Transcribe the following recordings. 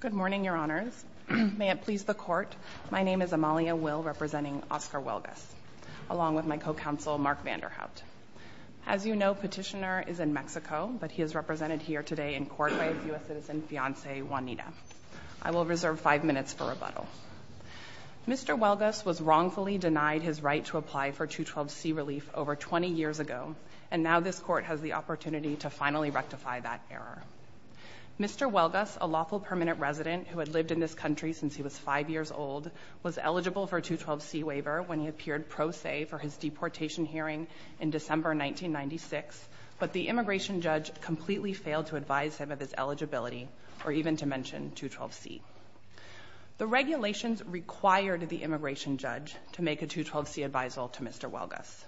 Good morning, Your Honors. May it please the Court, my name is Amalia Will representing Oscar Huelgas, along with my co-counsel Mark Vanderhout. As you know, Petitioner is in Mexico, but he is represented here today in court by U.S. citizen fiance Juanita. I will reserve five minutes for rebuttal. Mr. Huelgas was wrongfully denied his right to apply for 212c relief over 20 years ago, and now this Court has the opportunity to finally rectify that error. Mr. Huelgas, a lawful permanent resident who had lived in this country since he was 5 years old, was eligible for a 212c waiver when he appeared pro se for his deportation hearing in December 1996, but the immigration judge completely failed to advise him of his eligibility, or even to mention 212c. The regulations required the immigration judge to make a 212c advisal to Mr. Huelgas.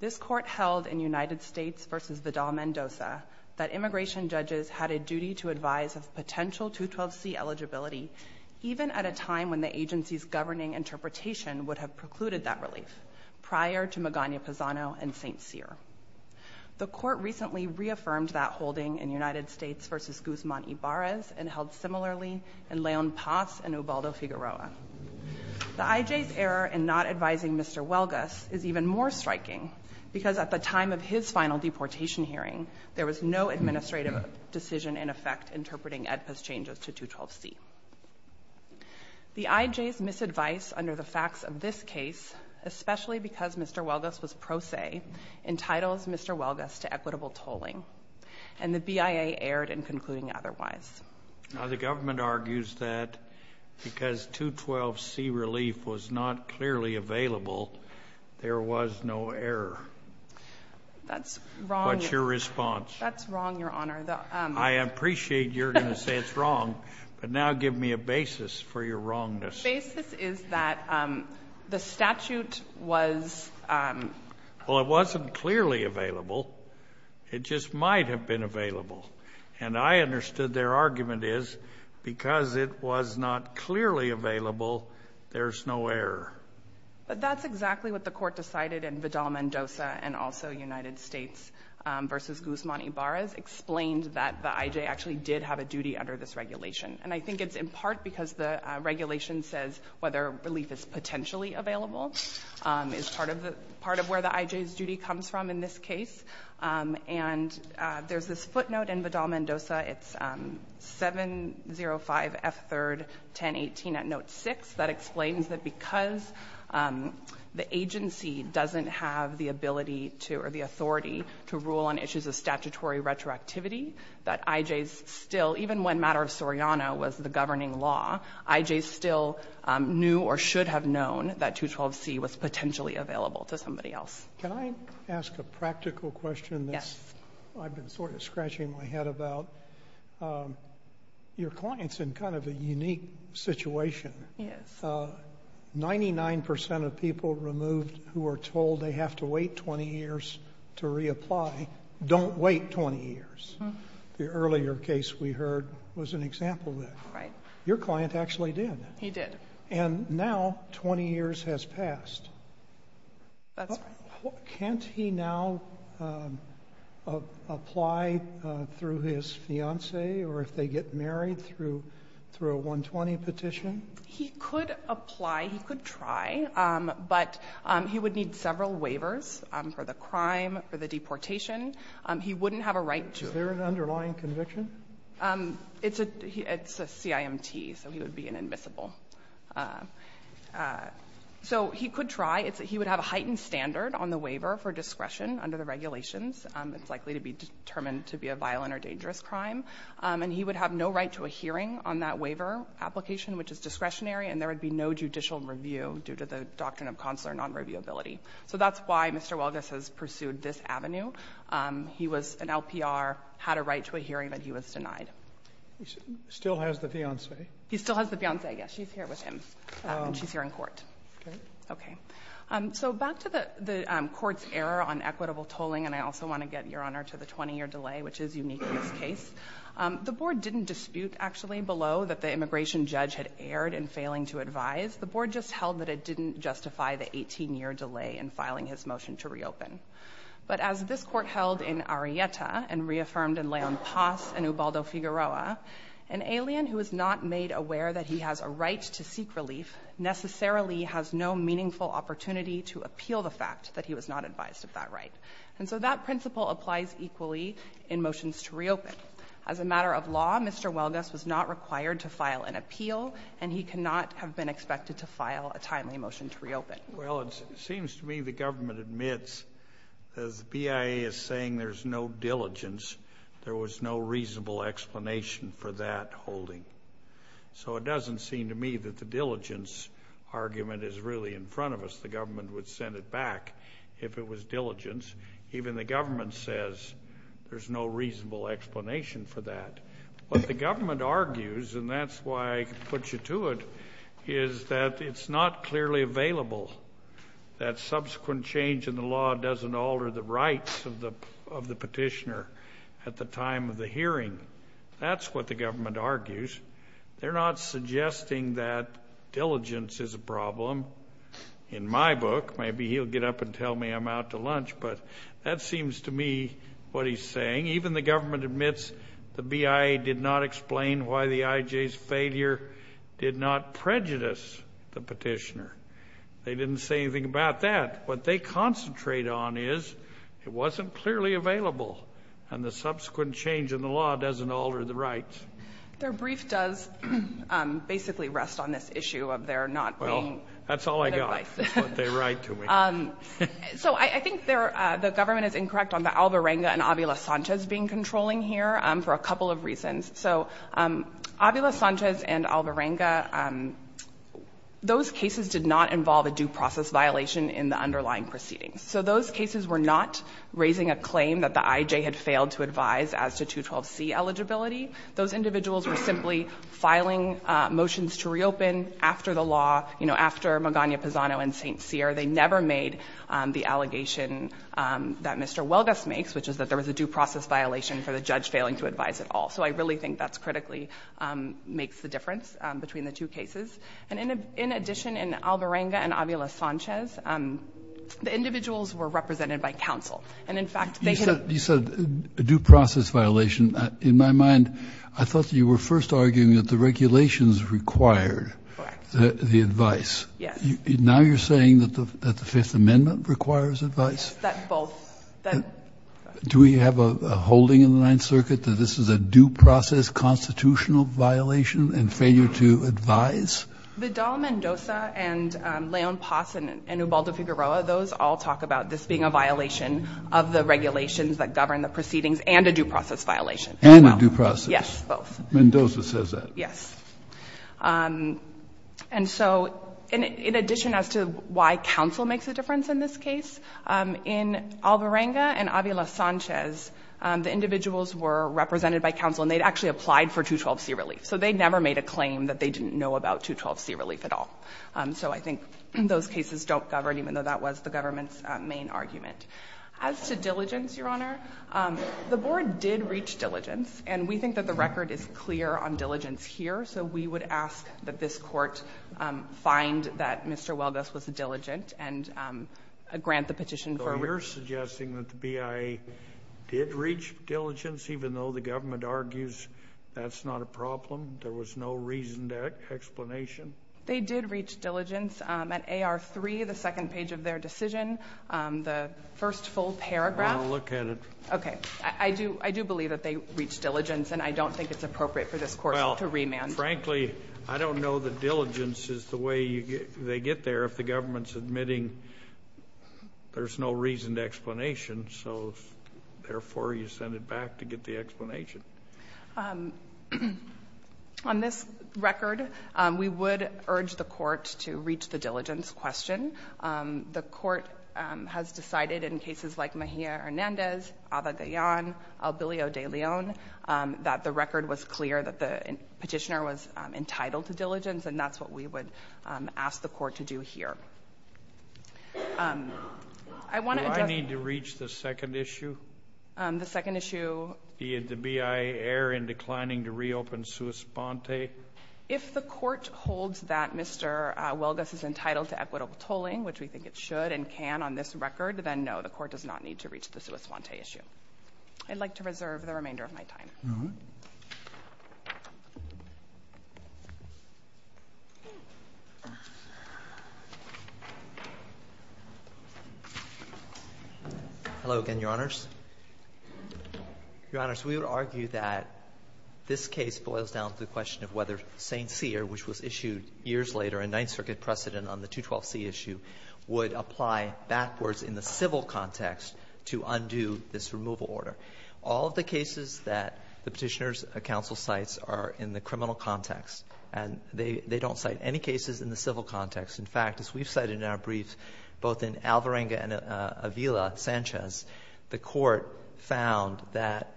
This Court held in United States v. Vidal Mendoza that immigration judges had a duty to advise of potential 212c eligibility even at a time when the agency's governing interpretation would have precluded that relief prior to Magana Pazano and St. Cyr. The Court recently reaffirmed that holding in United States v. Guzman Ibarrez and held similarly in Leon Paz and Ubaldo Figueroa. The IJ's error in not advising Mr. Huelgas is even more striking because at the time of his final deportation hearing, there was no administrative decision in effect interpreting Edpas changes to 212c. The IJ's misadvice under the facts of this case, especially because Mr. Huelgas was pro se, entitles Mr. Huelgas to equitable tolling, and the BIA erred in concluding otherwise. Now the government argues that because 212c relief was not clearly available, there was no error. That's wrong. What's your response? That's wrong, Your Honor. I appreciate you're going to say it's wrong, but now give me a basis for your wrongness. The basis is that the statute was... Well, it wasn't clearly available. It just might have been available, and I understood their argument is because it was not clearly available, there's no error. But that's exactly what the Court decided in Vidal-Mendoza and also United States v. Guzman-Ibarra's explained, that the IJ actually did have a duty under this regulation. And I think it's in part because the regulation says whether relief is potentially available is part of where the IJ's duty comes from in this case. And there's this footnote in Vidal-Mendoza, it's 705 F 3rd 1018 at note 6, that explains that because the agency doesn't have the ability to or the authority to rule on issues of statutory retroactivity, that IJs still, even when matter of Soriano was the governing law, IJs still knew or should have known that 212c was potentially available to somebody else. Can I ask a practical question that I've been sort of scratching my head about? Your client's in kind of a unique situation. 99% of people removed who are told they have to wait 20 years to reapply, don't wait 20 years. The earlier case we heard was an example of that. Right. Your client actually did. He did. And now 20 years has passed. That's right. Can't he now apply through his fiance or if they get married through a 120 petition? He could apply, he could try, but he would need several waivers for the crime, for the deportation. He wouldn't have a right to. Is there an underlying conviction? It's a CIMT, so he would be an admissible. So he could try. He would have a heightened standard on the waiver for discretion under the regulations. It's likely to be determined to be a violent or dangerous crime. And he would have no right to a hearing on that waiver application, which is discretionary, and there would be no judicial review due to the doctrine of consular non-reviewability. So that's why Mr. Welges has pursued this avenue. He was an LPR, had a right to a hearing, but he was denied. He still has the fiance? He still has the fiance, yes. She's here with him. She's here in court. Okay. So back to the court's error on equitable tolling, and I also want to get, Your Honor, back to this case. The board didn't dispute, actually, below that the immigration judge had erred in failing to advise. The board just held that it didn't justify the 18-year delay in filing his motion to reopen. But as this court held in Arelleta and reaffirmed in Leon Paz and Ubaldo Figueroa, an alien who is not made aware that he has a right to seek relief necessarily has no meaningful opportunity to appeal the fact that he was not advised of that right. And so that principle applies equally in motions to reopen. As a matter of law, Mr. Welges was not required to file an appeal, and he cannot have been expected to file a timely motion to reopen. Well, it seems to me the government admits, as BIA is saying there's no diligence, there was no reasonable explanation for that holding. So it doesn't seem to me that the diligence argument is really in front of us. The government would send it back if it was diligence. Even the government says there's no reasonable explanation for that. What the government argues, and that's why I put you to it, is that it's not clearly available, that subsequent change in the law doesn't alter the rights of the petitioner at the time of the hearing. That's what the government argues. They're not suggesting that diligence is a problem. In my book, maybe he'll get up and tell me I'm out to what he's saying. Even the government admits the BIA did not explain why the IJ's failure did not prejudice the petitioner. They didn't say anything about that. What they concentrate on is it wasn't clearly available, and the subsequent change in the law doesn't alter the rights. Their brief does basically rest on this issue of their not being... Well, that's all I got, what they write to me. I think the government is incorrect on the Alvarenga and Avila Sanchez being controlling here for a couple of reasons. Avila Sanchez and Alvarenga, those cases did not involve a due process violation in the underlying proceedings. Those cases were not raising a claim that the IJ had failed to advise as to 212C eligibility. Those individuals were simply filing motions to reopen after the law, after Magana-Pisano and St. Cyr. They never made the allegation that Mr. Welges makes, which is that there was a due process violation for the judge failing to advise at all. I really think that's critically makes the difference between the two cases. In addition, in Alvarenga and Avila Sanchez, the individuals were represented by counsel. In fact, they could... You said a due process violation. In my mind, I thought you were first arguing that the regulations required the advice. Now you're saying that the Fifth Amendment requires advice? That both... Do we have a holding in the Ninth Circuit that this is a due process constitutional violation and failure to advise? Vidal Mendoza and Leon Paz and Ubaldo Figueroa, those all talk about this being a violation of the regulations that govern the proceedings and a due process violation. And a due process says that? Yes. And so, in addition as to why counsel makes a difference in this case, in Alvarenga and Avila Sanchez, the individuals were represented by counsel and they'd actually applied for 212C relief. So they never made a claim that they didn't know about 212C relief at all. So I think those cases don't govern, even though that was the government's main argument. As to diligence, Your Honor, the board did reach diligence, and we think that the record is clear on diligence here. So we would ask that this court find that Mr. Weldus was diligent and grant the petition for... So you're suggesting that the BIA did reach diligence, even though the government argues that's not a problem? There was no reasoned explanation? They did reach diligence. At AR3, the second page of their decision, the first full paragraph... I want to look at it. Okay. I do believe that they reached diligence, and I don't think it's appropriate for this Court to remand. Well, frankly, I don't know that diligence is the way they get there if the government's admitting there's no reasoned explanation. So, therefore, you send it back to get the explanation. On this record, we would urge the Court to reach the diligence question. The Court has decided in cases like Mejia-Hernandez, Abagayan, Albillo de Leon, that the record was clear that the petitioner was entitled to diligence, and that's what we would ask the Court to do here. I want to address... Do I need to reach the second issue? The second issue... The BIA error in declining to reopen sua sponte? If the Court holds that Mr. Welgus is entitled to equitable tolling, which we think it should and can on this record, then, no, the Court does not need to reach the sua sponte issue. I'd like to reserve the remainder of my that this case boils down to the question of whether St. Cyr, which was issued years later, a Ninth Circuit precedent on the 212C issue, would apply backwards in the civil context to undo this removal order. All of the cases that the Petitioner's Council cites are in the criminal context, and they don't cite any cases in the civil context. In fact, as we've cited in both in Alvarenga and Avila, Sanchez, the Court found that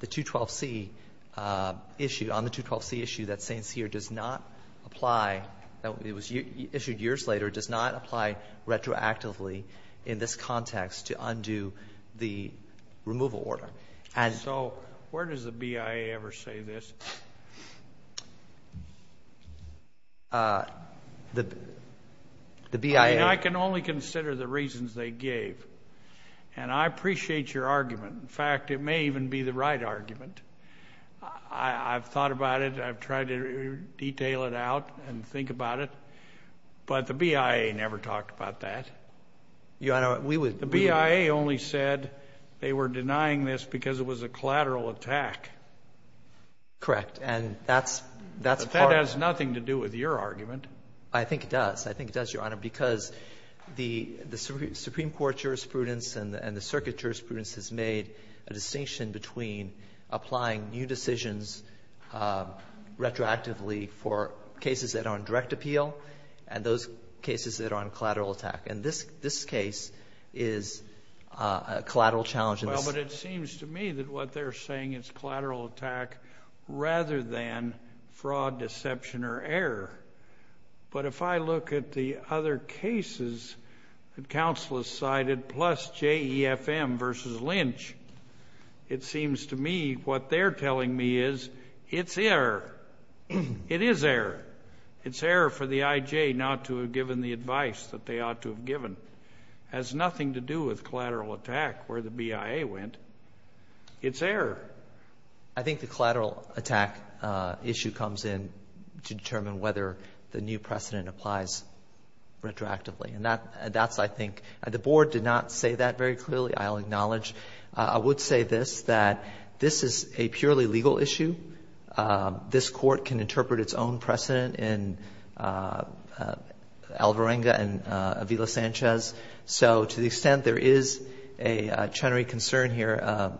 the 212C issue, on the 212C issue, that St. Cyr does not apply... It was issued years later, does not apply retroactively in this context to undo the removal order. So where does the BIA ever say this? I mean, I can only consider the reasons they gave, and I appreciate your argument. In fact, it may even be the right argument. I've thought about it. I've tried to detail it out and think about it, but the BIA never talked about that. Your Honor, we would... The BIA only said they were denying this because it was a collateral attack. Correct. And that's... That has nothing to do with your argument. I think it does. I think it does, Your Honor, because the Supreme Court jurisprudence and the circuit jurisprudence has made a distinction between applying new decisions retroactively for cases that are on direct appeal and those cases that are on collateral attack. And this case is a collateral challenge. Well, but it seems to me that what they're saying is collateral attack rather than fraud, deception, or error. But if I look at the other cases that counsel has cited, plus JEFM versus Lynch, it seems to me what they're that they ought to have given has nothing to do with collateral attack where the BIA went. It's error. I think the collateral attack issue comes in to determine whether the new precedent applies retroactively. And that's, I think, the Board did not say that very clearly. I'll acknowledge. I would say this, that this is a purely legal issue. This Court can interpret its own precedent in Alvarenga and Avila-Sanchez. So to the extent there is a Chenery concern here,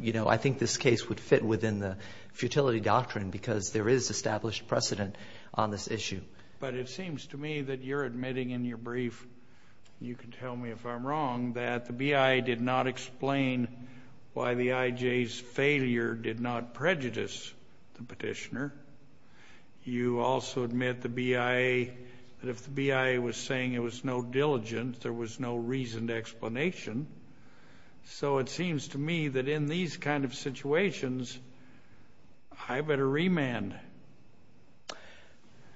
you know, I think this case would fit within the futility doctrine because there is established precedent on this issue. But it seems to me that you're admitting in your brief, you can tell me if I'm wrong, that the BIA did not explain why the IJ's failure did not prejudice the petitioner. You also admit the BIA, that if the BIA was saying it was no diligent, there was no reason to explanation. So it seems to me that in these kind of situations, I better remand.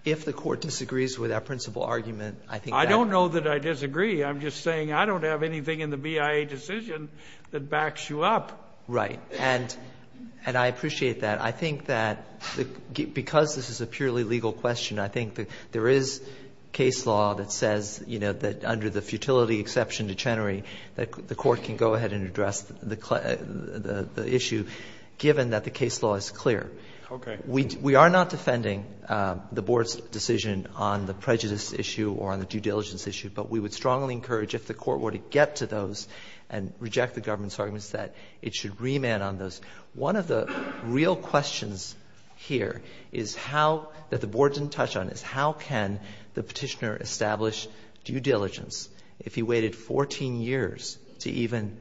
If the Court disagrees with that principal argument, I think— I don't know that I disagree. I'm just saying I don't have anything in the BIA decision that backs you up. Right. And I appreciate that. I think that because this is a purely legal question, I think there is case law that says, you know, that under the futility exception to Chenery, the Court can go ahead and address the issue, given that the case law is clear. Okay. We are not defending the Board's decision on the prejudice issue or on the due diligence issue, but we would strongly encourage, if the Court were to get to those and reject the government's arguments, that it should remand on those. One of the real questions here is how—that the Board didn't touch on—is how can the petitioner establish due diligence if he waited 14 years to even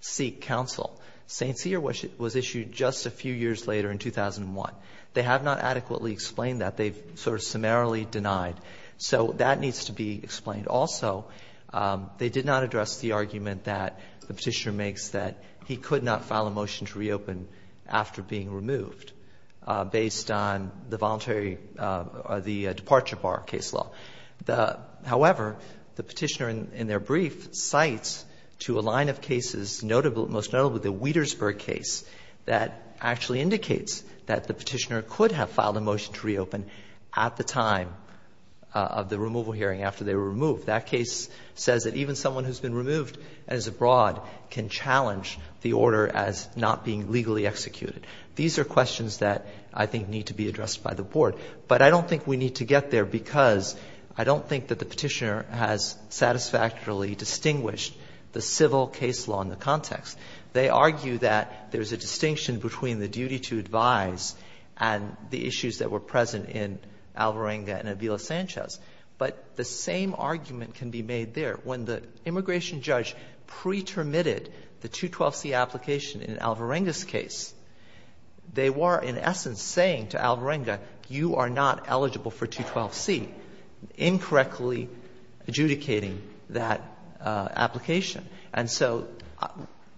seek counsel? St. Cyr was issued just a few years later in 2001. They have not also—they did not address the argument that the petitioner makes that he could not file a motion to reopen after being removed, based on the voluntary—the departure bar case law. However, the petitioner in their brief cites to a line of cases notable—most notable the Wietersburg case that actually indicates that the petitioner could have filed a motion to reopen at the time of the removal hearing after they were removed. That case says that even someone who has been removed and is abroad can challenge the order as not being legally executed. These are questions that I think need to be addressed by the Board. But I don't think we need to get there because I don't think that the petitioner has satisfactorily distinguished the civil case law in the context. They argue that there is a distinction between the duty to advise and the issues that were present in Alvarenga and Avila-Sanchez. But the same argument can be made there. When the immigration judge pretermitted the 212c application in Alvarenga's case, they were in essence saying to Alvarenga, you are not eligible for 212c, incorrectly adjudicating that application. And so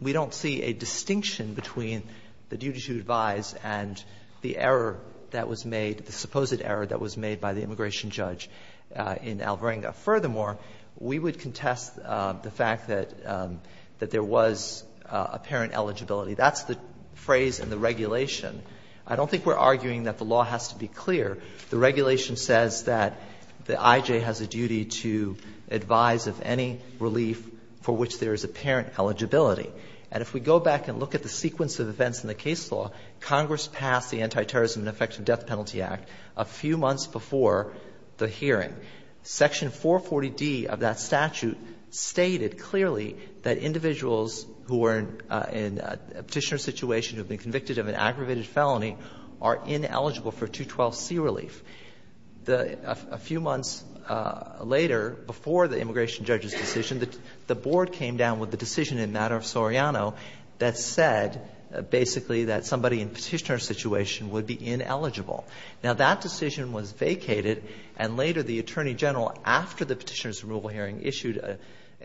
we don't see a distinction between the duty to advise and the error that was made, the supposed error that was made by the immigration judge in Alvarenga. Furthermore, we would contest the fact that there was apparent eligibility. That's the phrase in the regulation. I don't think we're arguing that the law has to be clear. The regulation says that the IJ has a duty to advise of any relief for which there is apparent eligibility. And if we go back and look at the sequence of events in the case law, Congress passed the Antiterrorism and Effective Death Penalty Act a few months before the hearing. Section 440d of that statute stated clearly that individuals who are in a petitioner situation who have been convicted of an aggravated felony are ineligible for 212c relief. A few months later, before the immigration judge's decision, the board came down with the decision in matter of Soriano that said basically that somebody in a petitioner situation would be ineligible. Now that decision was vacated and later the Attorney General, after the petitioner's removal hearing, issued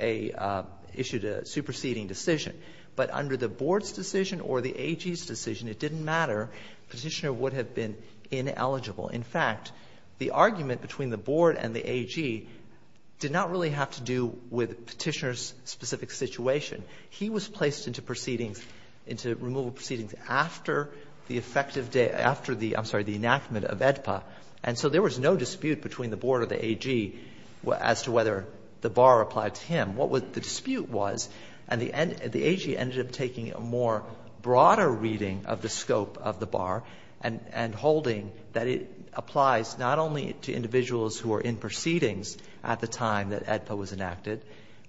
a superseding decision. But under the board's decision or the AG's decision, it didn't matter. Petitioner would have been ineligible. In fact, the argument between the board and the AG did not really have to do with petitioner's specific situation. He was placed into proceedings, into removal proceedings, after the effective day, after the, I'm sorry, the enactment of AEDPA. And so there was no dispute between the board or the AG as to whether the bar applied to him. What the dispute was, and the AG ended up taking a more broader reading of the scope of the bar and holding that it applies not only to individuals who are in proceedings at the time that AEDPA was enacted,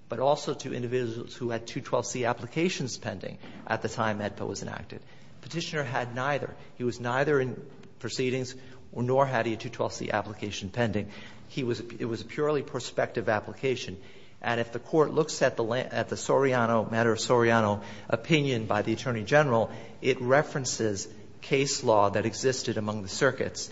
but also to individuals who had 212c applications pending at the time AEDPA was enacted. Petitioner had neither. He was neither in proceedings nor had he a 212c application pending. He was, it was a purely prospective application. And if the Court looks at the, at the Soriano, matter of Soriano opinion by the Attorney General, it references case law that existed among the circuits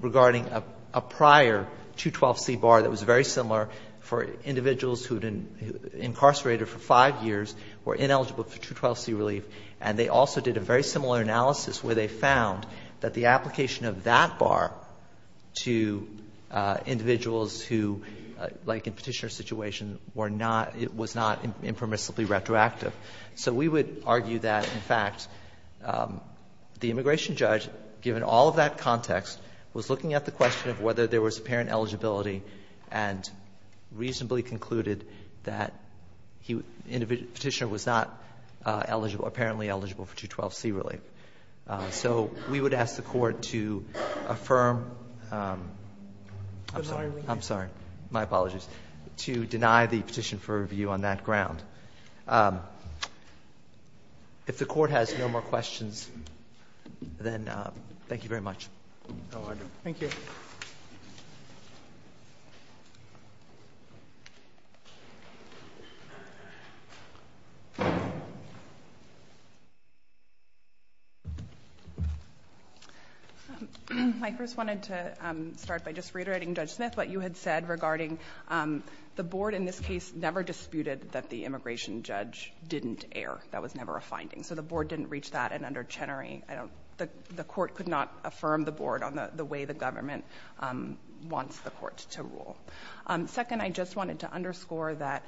regarding a prior 212c bar that was very similar for individuals who had been incarcerated for 5 years, were ineligible for 212c relief. And they also did a very similar analysis where they found that the application of that bar to individuals who, like in Petitioner's situation, were not, was not impermissibly retroactive. So we would argue that, in fact, the immigration judge, given all of that context, was looking at the question of whether there was apparent eligibility and reasonably concluded that he, Petitioner was not eligible, apparently eligible for 212c relief. So we would ask the Court to affirm, I'm sorry, I'm sorry, my apologies, to deny the petition for review on that ground. If the Court has no more questions, then thank you very much. No, I do. Thank you. I first wanted to start by just reiterating, Judge Smith, what you had said regarding the board in this case never disputed that the immigration judge didn't err. That was never a finding. So the board didn't reach that, and under Chenery, the Court could not affirm the board on the way the government wants the Court to rule. Second, I just wanted to underscore that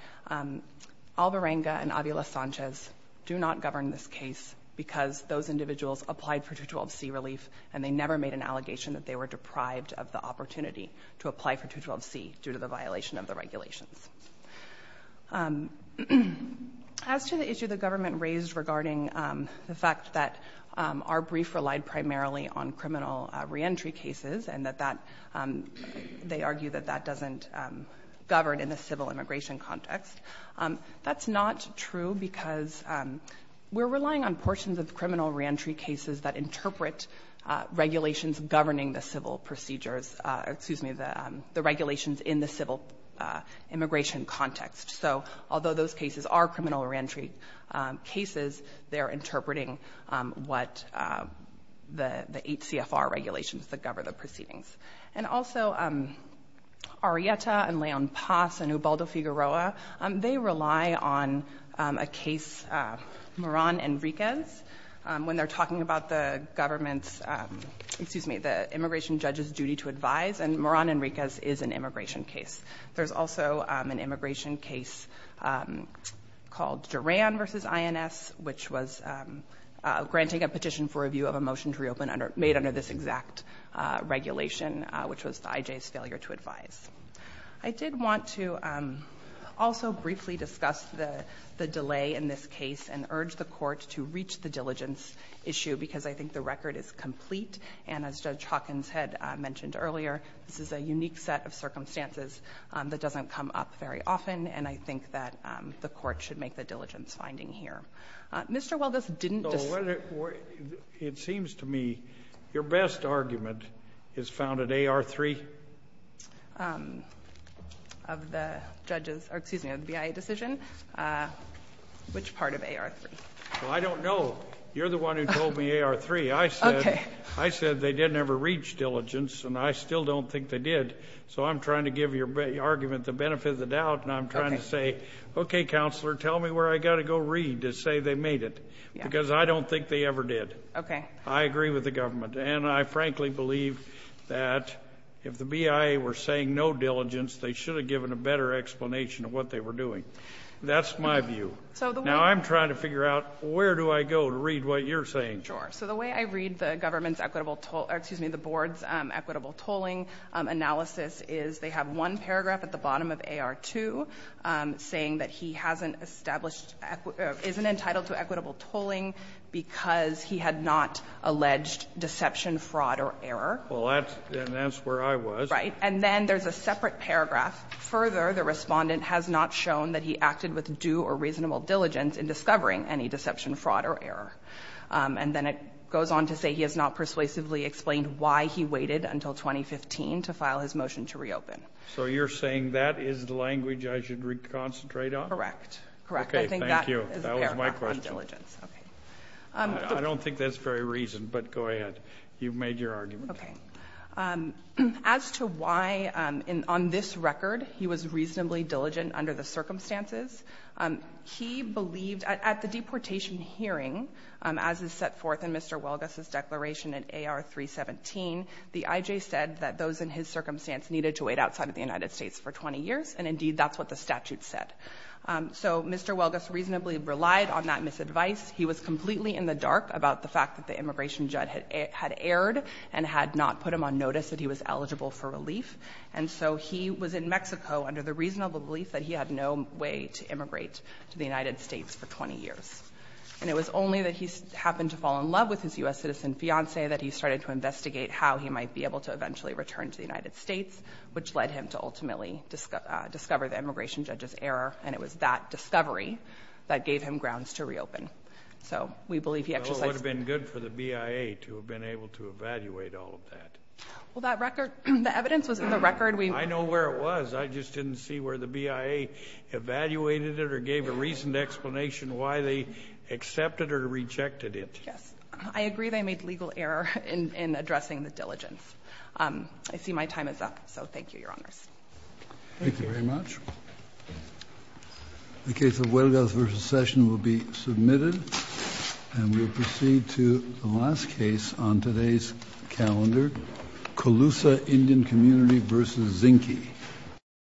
Alvarenga and Avila Sanchez do not govern this case because those individuals applied for 212c relief, and they never made an application of the regulations. As to the issue the government raised regarding the fact that our brief relied primarily on criminal reentry cases, and that that, they argue that that doesn't govern in the civil immigration context, that's not true because we're relying on portions of criminal reentry cases that interpret regulations governing the civil procedures, excuse me, the regulations in the civil immigration context. So although those cases are criminal reentry cases, they're interpreting what the HCFR regulations that govern the proceedings. And also, Arrieta and Leon Paz and Ubaldo Figueroa, they rely on a case, Moran and Riquez, when they're talking about the government's, excuse me, the immigration judge's duty to advise, and Moran and Riquez is an immigration case. There's also an immigration case called Duran v. INS, which was granting a petition for review of a motion to reopen made under this exact regulation, which was the IJ's failure to advise. I did want to also briefly discuss the delay in this case and urge the Court to reach the diligence issue, because I think the record is complete. And as Judge Hawkins had mentioned earlier, this is a unique set of circumstances that doesn't come up very often, and I think that the Court should make the diligence finding here. Mr. Waldus didn't decide. It seems to me your best argument is found at AR3. Of the judge's, or excuse me, of the BIA decision. Which part of AR3? Well, I don't know. You're the one who told me AR3. I said they didn't ever reach diligence, and I still don't think they did. So I'm trying to give your argument the benefit of the doubt, and I'm trying to say, okay, Counselor, tell me where I've got to go read to say they made it, because I don't think they ever did. I agree with the government, and I frankly believe that if the BIA were saying no diligence, they should have given a better explanation of what they were doing. That's my view. Now, I'm trying to figure out where do I go to read what you're saying. Sure. So the way I read the government's equitable toll or, excuse me, the Board's equitable tolling analysis is they have one paragraph at the bottom of AR2 saying that he hasn't established or isn't entitled to equitable tolling because he had not alleged deception, fraud, or error. Well, that's where I was. And then there's a separate paragraph. Further, the respondent has not shown that he acted with due or reasonable diligence in discovering any deception, fraud, or error. And then it goes on to say he has not persuasively explained why he waited until 2015 to file his motion to reopen. So you're saying that is the language I should concentrate on? Correct. Okay, thank you. I think that is a paragraph on diligence. I don't think that's very reasoned, but go ahead. You've made your argument. Okay. As to why on this record he was reasonably diligent under the circumstances, he believed at the deportation hearing, as is set forth in Mr. Welgus's declaration in AR317, the IJ said that those in his circumstance needed to wait outside of the United States for 20 years, and indeed that's what the statute said. So Mr. Welgus reasonably relied on that misadvice. He was completely in the dark about the fact that the immigration judge had erred and had not put him on notice that he was eligible for relief. And so he was in Mexico under the reasonable belief that he had no way to immigrate to the United States for 20 years. And it was only that he happened to fall in love with his U.S. citizen fiancée that he started to investigate how he might be able to eventually return to the United States, which led him to ultimately discover the immigration judge's error, and it was that discovery that gave him grounds to reopen. So we believe he exercised the... Well, that record, the evidence was in the record. I know where it was. I just didn't see where the BIA evaluated it or gave a reasoned explanation why they accepted or rejected it. Yes. I agree they made legal error in addressing the diligence. I see my time is up. So thank you, Your Honors. Thank you. Thank you very much. The case of Welgus v. Session will be submitted. And we'll proceed to the last case on today's calendar, Colusa Indian Community v. Zinke.